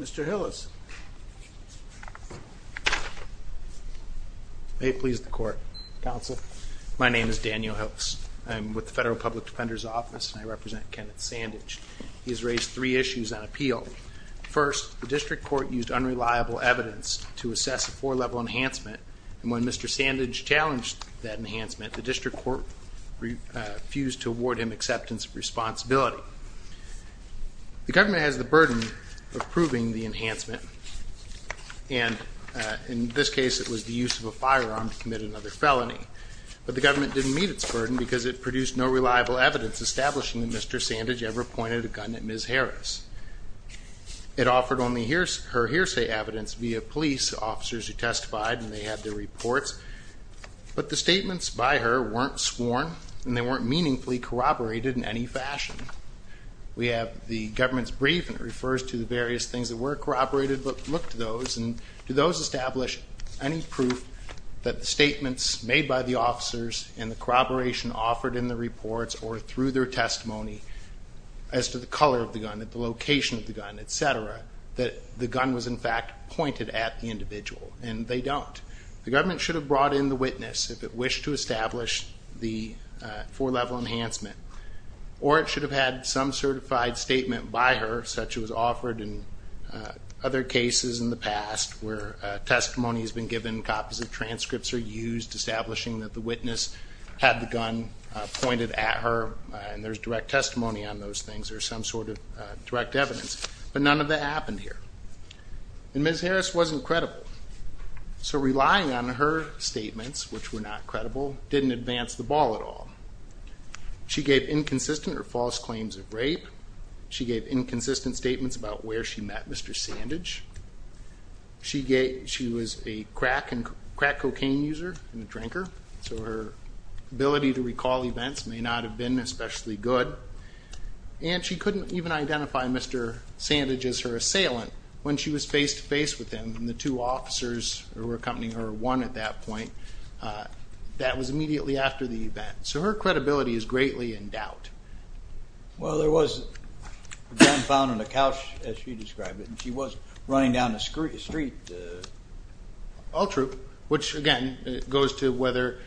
Mr. Hillis. May it please the court. Counsel, my name is Daniel Hillis. I'm with the Federal Public Defender's Office and I represent Kenneth Sandidge. He has raised three issues on appeal. First, the district court used unreliable evidence to assess a four-level enhancement, and when Mr. Sandidge challenged that enhancement, the district court refused to award him acceptance of responsibility. The government has the burden of proving the enhancement, and in this case it was the use of a firearm to commit another felony. But the government didn't meet its burden because it produced no reliable evidence establishing that Mr. Sandidge ever pointed a gun at Ms. Harris. It offered only her hearsay evidence via police officers who testified and they had their reports, but the statements by her weren't sworn and they weren't meaningfully corroborated in any fashion. We have the government's brief and it refers to the various things that were corroborated, but look to those and do those establish any proof that the statements made by the officers and the corroboration offered in the reports or through their testimony as to the color of the gun, at the location of the gun, etc., that the gun was in fact pointed at the individual, and they don't. The government should have brought in the witness if it wished to establish the four-level enhancement, or it should have had some certified statement by her such as was offered in other cases in the past where testimony has been given, copies of transcripts are used, establishing that the witness had the gun pointed at her, and there's direct testimony on those things or some sort of direct evidence, but none of that happened here. And Ms. Harris wasn't credible. So relying on her statements, which were not credible, didn't advance the ball at all. She gave inconsistent or false claims of rape. She gave inconsistent statements about where she met Mr. Sandidge. She was a crack and crack cocaine user and a drinker, so her ability to recall events may not have been especially good. And she couldn't even identify Mr. Sandidge as her assailant when she was face-to-face with him and the two officers who were accompanying her won at that point. That was immediately after the event. So her credibility is greatly in doubt. Well, there was a gun found on the couch, as she described it, and she was running down the street. All true. Which, again, goes to whether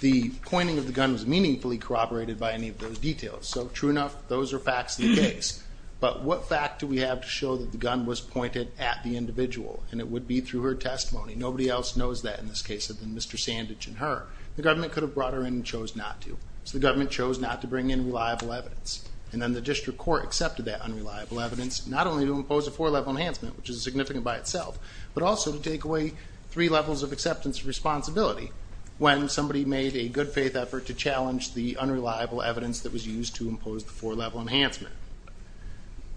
the pointing of the gun was meaningfully corroborated by any of those details. So true enough, those are facts of the case. But what fact do we have to show that the gun was pointed at the individual? And it would be through her testimony. Nobody else knows that in this case other than Mr. Sandidge and her. The government could have brought her in and chose not to. So the government chose not to bring in reliable evidence. And then the district court accepted that unreliable evidence, not only to impose a four-level enhancement, which is significant by itself, but also to take away three levels of acceptance of responsibility when somebody made a good-faith effort to challenge the unreliable evidence that was used to impose the four-level enhancement.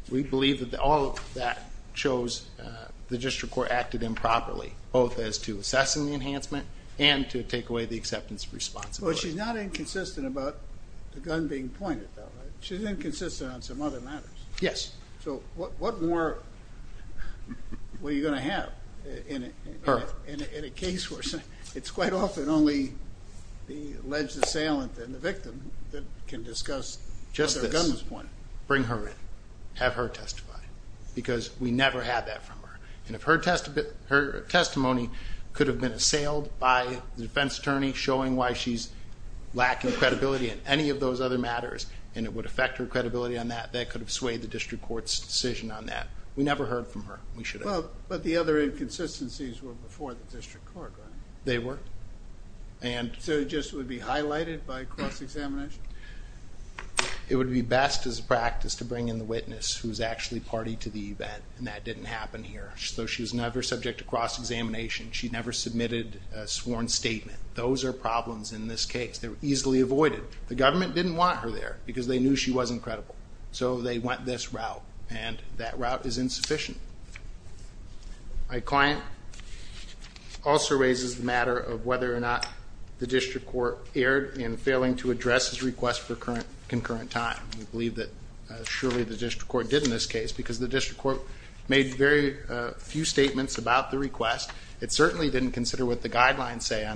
We believe that all of that shows the district court acted improperly, both as to assessing the enhancement and to take away the acceptance of responsibility. Well, she's not inconsistent about the gun being pointed, though, right? She's inconsistent on some other matters. Yes. So what more were you going to have in a case where it's quite often only the alleged assailant and the victim that can discuss whether a gun was pointed? Just this. Bring her in. Have her testify. Because we never had that from her. And if her testimony could have been assailed by the defense attorney showing why she's lacking credibility in any of the district court's decision on that, we never heard from her. We should have. Well, but the other inconsistencies were before the district court, right? They were. And... So it just would be highlighted by cross-examination? It would be best as a practice to bring in the witness who's actually party to the event. And that didn't happen here. So she was never subject to cross-examination. She never submitted a sworn statement. Those are problems in this case. They're easily avoided. The government didn't want her there because they knew she wasn't credible. So they went this route. And that route is insufficient. My client also raises the matter of whether or not the district court erred in failing to address his request for concurrent time. We believe that surely the district court did in this case because the district court made very few statements about the request. It certainly didn't consider what the 1.3C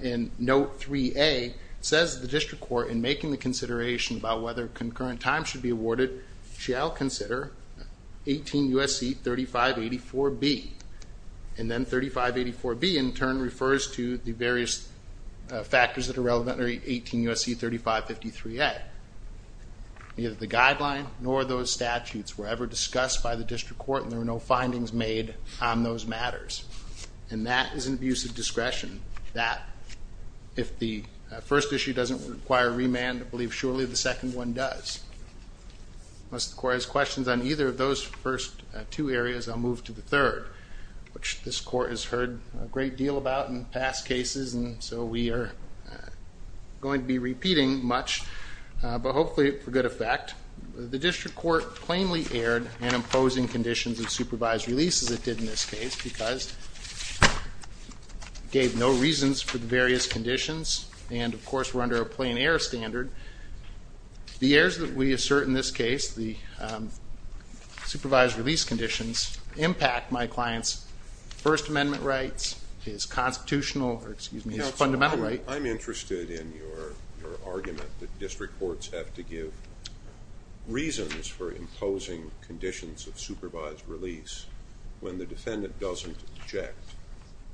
and note 3A says the district court in making the consideration about whether concurrent time should be awarded shall consider 18 U.S.C. 3584B. And then 3584B in turn refers to the various factors that are relevant under 18 U.S.C. 3553A. Neither the guideline nor those statutes were ever discussed by the district court and there were no findings made on those matters. And that is an abuse of discretion that if the first issue doesn't require remand I believe surely the second one does. Unless the court has questions on either of those first two areas I'll move to the third which this court has heard a great deal about in past cases and so we are going to be repeating much but hopefully for good effect. The district court plainly erred in imposing conditions of supervised releases it did in this case because gave no reasons for the various conditions and of course we're under a plain error standard. The errors that we assert in this case the supervised release conditions impact my client's first amendment rights, his constitutional or excuse me his fundamental right. I'm interested in your argument that district courts have to give reasons for imposing conditions of supervised release when the defendant doesn't object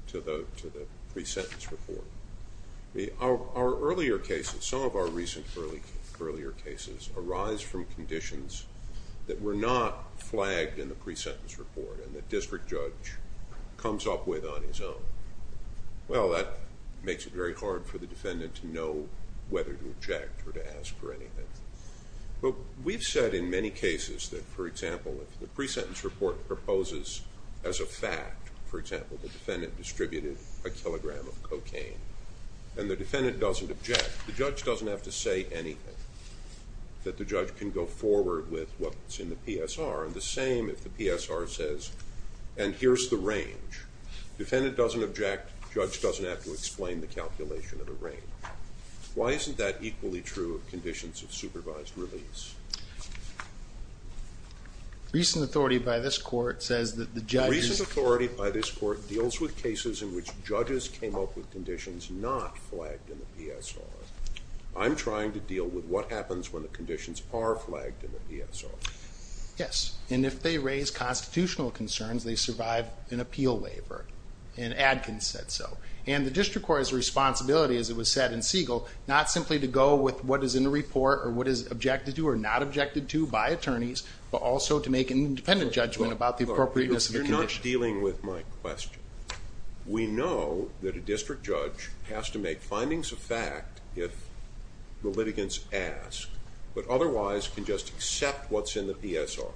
to the pre-sentence report. Our earlier cases some of our recent earlier cases arise from conditions that were not flagged in the pre-sentence report and the district judge comes up with on his own. Well that makes it very hard for the defendant whether to object or to ask for anything but we've said in many cases that for example if the pre-sentence report proposes as a fact for example the defendant distributed a kilogram of cocaine and the defendant doesn't object the judge doesn't have to say anything that the judge can go forward with what's in the PSR and the same if the PSR says and here's the range defendant doesn't object judge doesn't have to explain the calculation of the range. Why isn't that equally true of conditions of supervised release? Recent authority by this court says that the judge's authority by this court deals with cases in which judges came up with conditions not flagged in the PSR. I'm trying to deal with what happens when the conditions are flagged in the PSR. Yes and if they raise constitutional concerns they survive an appeal waiver and Adkins said so and the district court has a responsibility as it was said in Siegel not simply to go with what is in the report or what is objected to or not objected to by attorneys but also to make an independent judgment about the appropriateness of the condition. You're not dealing with my question. We know that a district judge has to make findings of fact if the litigants ask but otherwise can just accept what's in the PSR.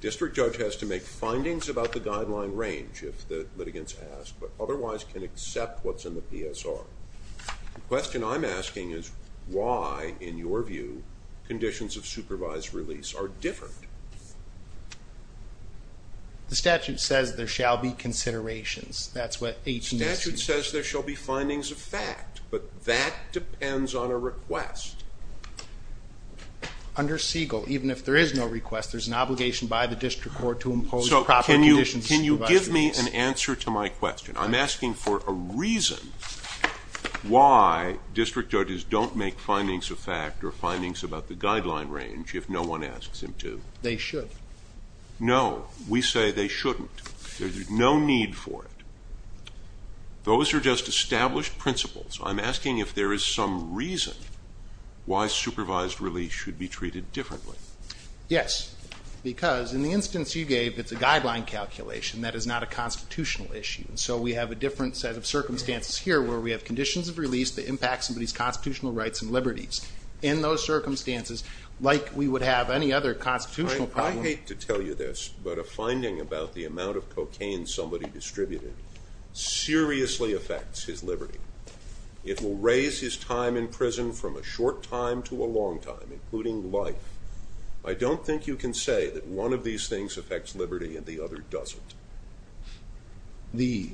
District judge has to make findings about the guideline range if the litigants ask but otherwise can accept what's in the PSR. The question I'm asking is why in your view conditions of supervised release are different? The statute says there shall be considerations. That's what 18s says there shall be findings of fact but that depends on a request. Under Siegel even if there is no request there's an obligation by the district court to impose proper conditions. Can you give me an answer to my question? I'm asking for a reason why district judges don't make findings of fact or findings about the guideline range if no one asks him to. They should. No we say they shouldn't. There's no need for it. Those are just established principles. I'm asking if there is some reason why supervised release should be treated differently. Yes because in the instance you gave it's a guideline calculation that is not a constitutional issue and so we have a different set of circumstances here where we have conditions of release that impact somebody's constitutional rights and liberties. In those circumstances like we would have any other constitutional problem. I hate to tell you this but a finding about the amount of cocaine somebody distributed seriously affects his liberty. It will raise his time in prison from a short time to a long time including life. I don't think you can say that one of these things affects liberty and the other doesn't. The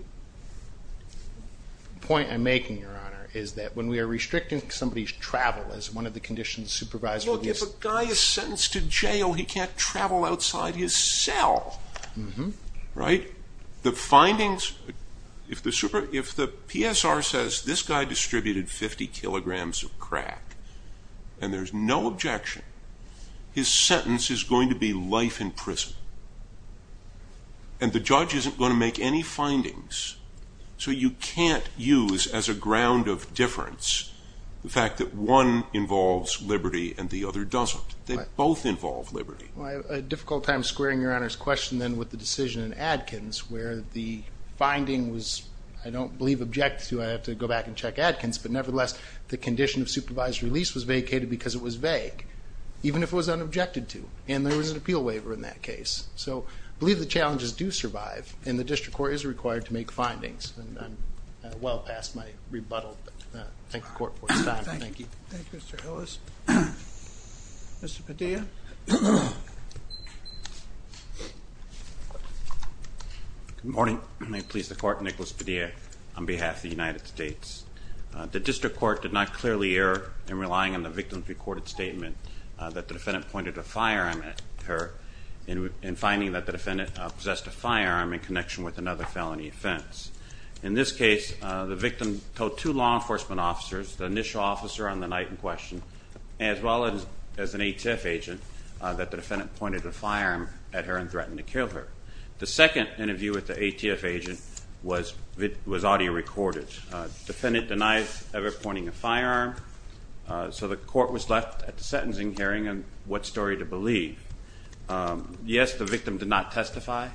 point I'm making your honor is that when we are restricting somebody's travel as one of the conditions supervised. Look if a guy is sentenced to jail he can't travel outside his cell right. The findings if the super if the PSR says this guy distributed 50 kilograms of crack and there's no objection. His sentence is going to be life in prison and the judge isn't going to make any findings. So you can't use as a ground of difference the fact that one involves liberty and the other doesn't. They both involve liberty. Well I have a difficult time squaring your honor's question then with the decision in Adkins where the finding was I don't believe objected to. I have to go back and check Adkins but nevertheless the condition of supervised release was vacated because it was vague even if it was unobjected to and there was an appeal waiver in that case. So I believe the challenges do survive and the district court is required to make findings and I'm well past my rebuttal but thank the court for Good morning. I please the court Nicholas Padilla on behalf of the United States. The district court did not clearly err in relying on the victim's recorded statement that the defendant pointed a firearm at her in finding that the defendant possessed a firearm in connection with another felony offense. In this case the victim told two law enforcement officers the initial officer on the night in question as well as an ATF agent that the defendant pointed a firearm at her and threatened to kill her. The second interview with the ATF agent was audio recorded. Defendant denies ever pointing a firearm so the court was left at the sentencing hearing and what story to believe. Yes the victim did not testify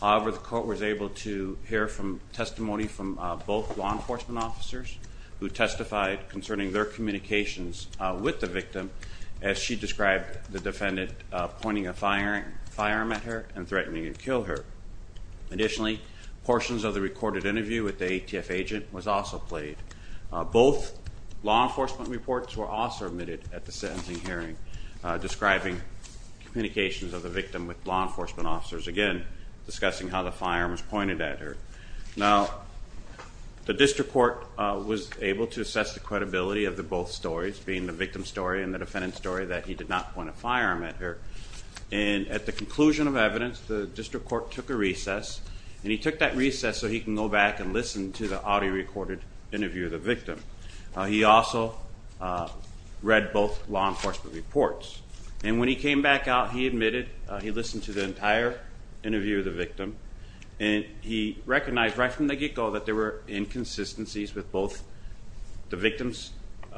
however the court was able to hear from testimony from both law enforcement officers who testified concerning their communications with the victim as she described the defendant pointing a firearm at her and threatening to kill her. Additionally portions of the recorded interview with the ATF agent was also played. Both law enforcement reports were also omitted at the sentencing hearing describing communications of the victim with law enforcement officers again discussing how the firearm was pointed at her. Now the district court was able to assess the credibility of the both stories being the victim's story and the defendant's story that he did not point a firearm at her and at the conclusion of evidence the district court took a recess and he took that recess so he can go back and listen to the audio recorded interview of the victim. He also read both law enforcement reports and when he came back out he admitted he listened to the entire interview of the victim and he recognized right from the get-go that there were inconsistencies with both the victim's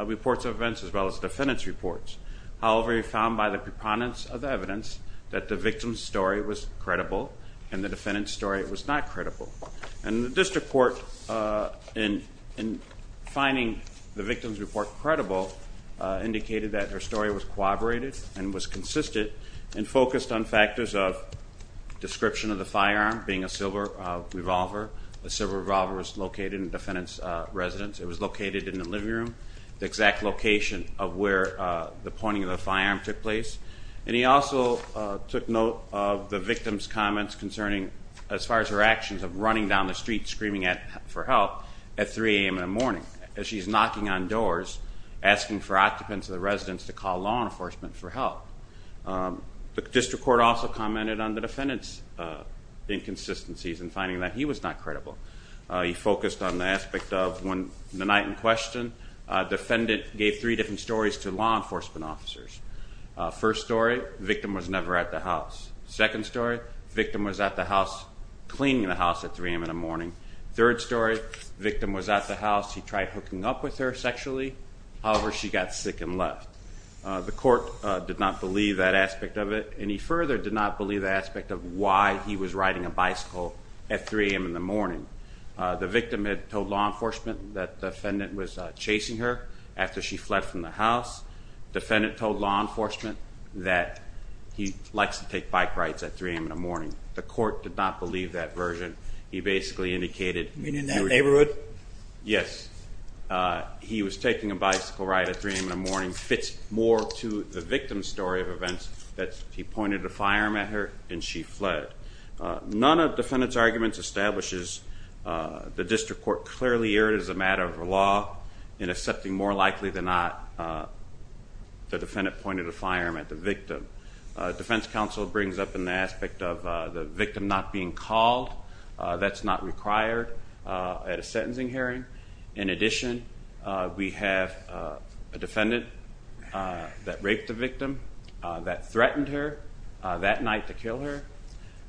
reports of events as well as the defendant's reports. However he found by the preponderance of the evidence that the victim's story was credible and the defendant's story was not credible and the district court in finding the victim's report credible indicated that her story was corroborated and was consistent and focused on factors of description of the firearm being a silver revolver. The silver revolver was located in the defendant's residence. It was located in the living room, the exact location of where the pointing of the firearm took place and he also took note of the victim's comments concerning as far as her actions of running down the street screaming for help at 3 a.m. in the morning as she's knocking on doors asking for occupants of the residence to call law enforcement for help. The district court also commented on the defendant's inconsistencies and finding that he was not credible. He focused on the aspect of when the night in question defendant gave three different stories to law enforcement officers. First story, victim was never at the house. Second story, victim was at the house cleaning the house at 3 a.m. in the morning. Third story, victim was at the house he tried hooking up with her sexually however she got sick and left. The court did not believe that aspect of it and he further did not believe the riding a bicycle at 3 a.m. in the morning. The victim had told law enforcement that the defendant was chasing her after she fled from the house. Defendant told law enforcement that he likes to take bike rides at 3 a.m. in the morning. The court did not believe that version. He basically indicated in that neighborhood. Yes, he was taking a bicycle ride at 3 a.m. in the morning. Fits more to the victim's story of events that he pointed a firearm at her and she fled. None of defendant's arguments establishes the district court clearly erred as a matter of law in accepting more likely than not the defendant pointed a firearm at the victim. Defense counsel brings up an aspect of the victim not being called. That's not required at a sentencing hearing. In addition, we have a that raped the victim, that threatened her that night to kill her,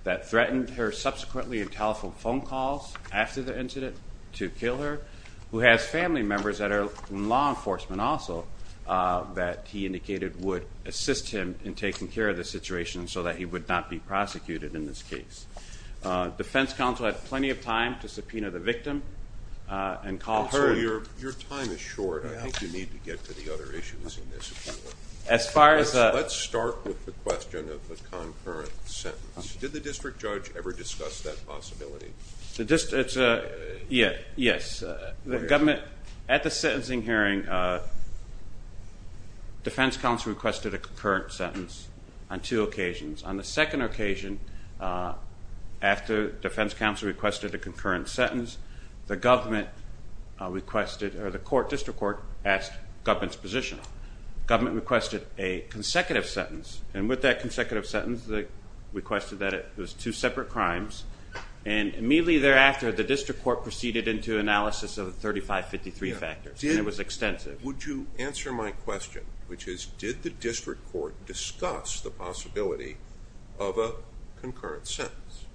that threatened her subsequently in telephone phone calls after the incident to kill her, who has family members that are in law enforcement also that he indicated would assist him in taking care of the situation so that he would not be prosecuted in this case. Defense counsel had plenty of time to subpoena the victim and call her. Your time is short. I think you need to get to the other issues in this. Let's start with the question of the concurrent sentence. Did the district judge ever discuss that possibility? At the sentencing hearing, defense counsel requested a concurrent sentence on two occasions. On the second occasion, after defense counsel requested a concurrent sentence, the government requested or the court district court asked government's position. Government requested a consecutive sentence and with that consecutive sentence they requested that it was two separate crimes and immediately thereafter the district court proceeded into analysis of 3553 factors and it was extensive. Would you answer my question, which is did the district court discuss the possibility of a concurrent sentence?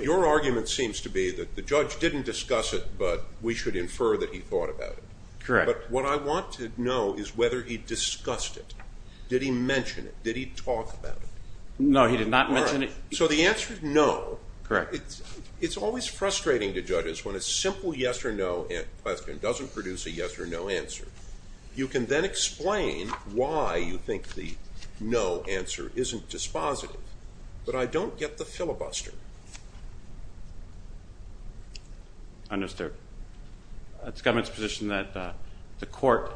Your argument seems to be that the judge didn't discuss it but we should infer that he thought about it. Correct. But what I want to know is whether he discussed it. Did he mention it? Did he talk about it? No, he did not mention it. So the answer is no. Correct. It's always frustrating to judges when a simple yes or no question doesn't produce a yes or no answer. You can then explain why you think the no answer isn't dispositive but I don't get the filibuster. Understood. It's government's position that the court,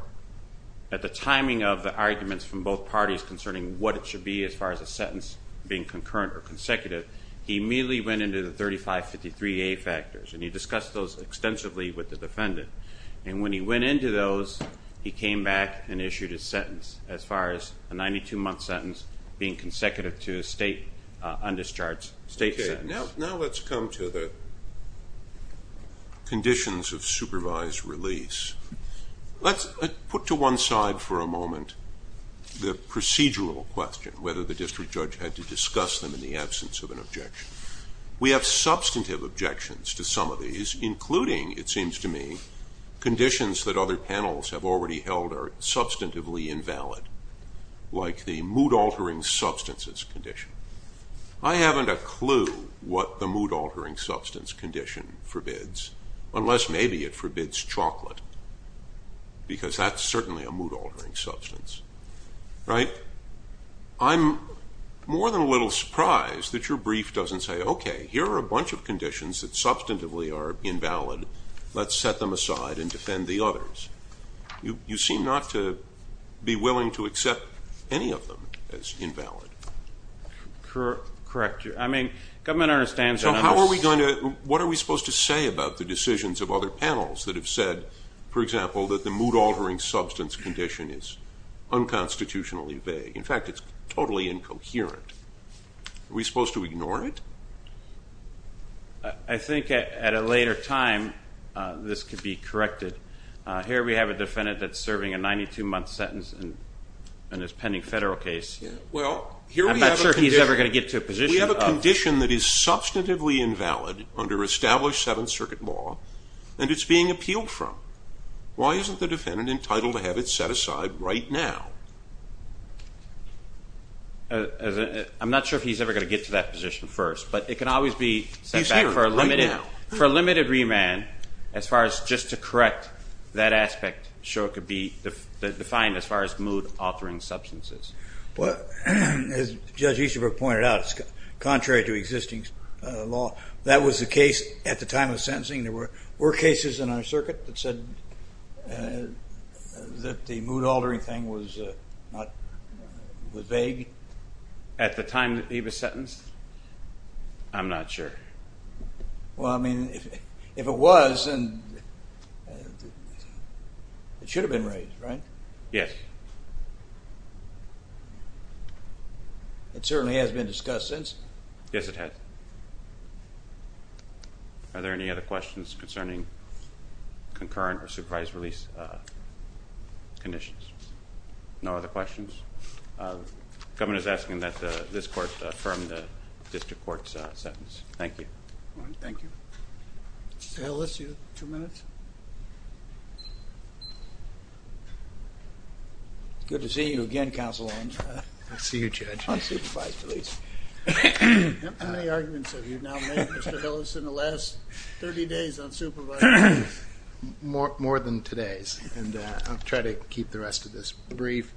at the timing of the arguments from both parties concerning what it should be as far as a sentence being concurrent or consecutive, he immediately went into the 3553A factors and he discussed those extensively with the defendant and when he went into those he came back and issued his sentence as far as a 92 month sentence being consecutive to a state undischarged state sentence. Now let's come to the conditions of supervised release. Let's put to one side for a moment the procedural question, whether the district judge had to discuss them in the absence of an objection. We have substantive objections to some of these including, it seems to me, conditions that other panels have already held are substantively invalid like the mood altering substances condition. I haven't a clue what the mood altering substance condition forbids unless maybe it forbids chocolate because that's certainly a mood altering substance. Right? I'm more than a little surprised that your brief doesn't say, okay, here are a bunch of conditions that substantively are invalid, let's set them aside and defend the others. You seem not to be willing to accept any of them as invalid. Correct. I mean government understands that. So how are we going to, what are we supposed to say about the decisions of other panels that have said, for example, that the mood altering substance condition is unconstitutionally vague? In fact, it's totally incoherent. Are we supposed to ignore it? I think at a later time this could be corrected. Here we have a defendant that's serving a 92 month sentence in his pending federal case. I'm not sure he's ever going to get to a position. We have a condition that is substantively invalid under established seventh circuit law and it's being appealed from. Why isn't the defendant entitled to have it set aside right now? I'm not sure if he's ever going to get to that position first, but it can always be set back for a limited remand as far as just to correct that aspect, so it could be contrary to existing law. That was the case at the time of sentencing. There were cases in our circuit that said that the mood altering thing was vague. At the time that he was sentenced? I'm not sure. Well, I mean if it was, it should have been raised, right? Yes. It certainly has been discussed since. Yes, it has. Are there any other questions concerning concurrent or supervised release conditions? No other questions? The government is asking that this court affirm the district court's sentence. Thank you. Thank you. Two minutes. It's good to see you again, counsel Holmes. Good to see you, Judge. How many arguments have you now made, Mr. Hillis, in the last 30 days on supervised release? More than today's and I'll try to keep the rest of this brief.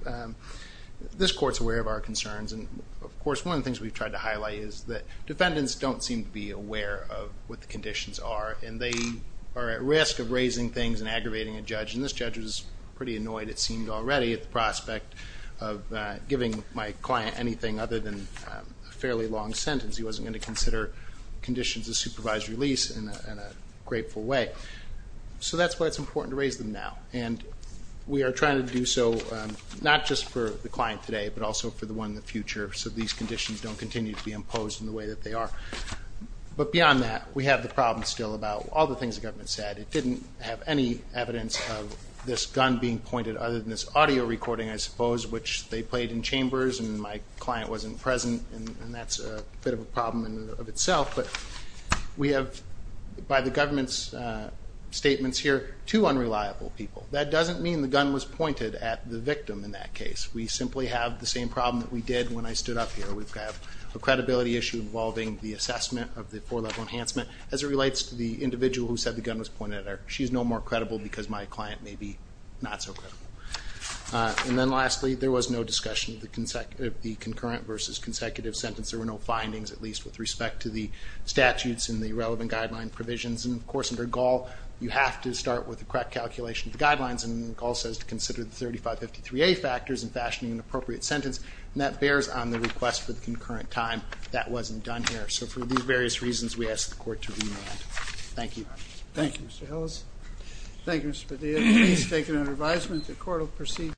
This court's aware of our concerns and of course one of the things we've tried to highlight is that defendants don't seem to be aware of what the conditions are and they are at risk of raising things and aggravating a judge and this judge was pretty already at the prospect of giving my client anything other than a fairly long sentence. He wasn't going to consider conditions of supervised release in a grateful way so that's why it's important to raise them now and we are trying to do so not just for the client today but also for the one in the future so these conditions don't continue to be imposed in the way that they are but beyond that we have the problem still about all the things the government said. It didn't have any evidence of this gun being pointed other than this audio recording I suppose which they played in chambers and my client wasn't present and that's a bit of a problem in and of itself but we have by the government's statements here two unreliable people. That doesn't mean the gun was pointed at the victim in that case. We simply have the same problem that we did when I stood up here. We have a credibility issue involving the assessment of the four-level enhancement as it because my client may be not so credible and then lastly there was no discussion of the concurrent versus consecutive sentence. There were no findings at least with respect to the statutes and the relevant guideline provisions and of course under Gaul you have to start with the correct calculation of the guidelines and Gaul says to consider the 3553a factors and fashioning an appropriate sentence and that bears on the request for the concurrent time. That wasn't done here so for these various reasons we ask the court to remand. Thank you. Thank you Mr. Hills. Thank you Mr. Padilla. Please take it under advisement the court will proceed.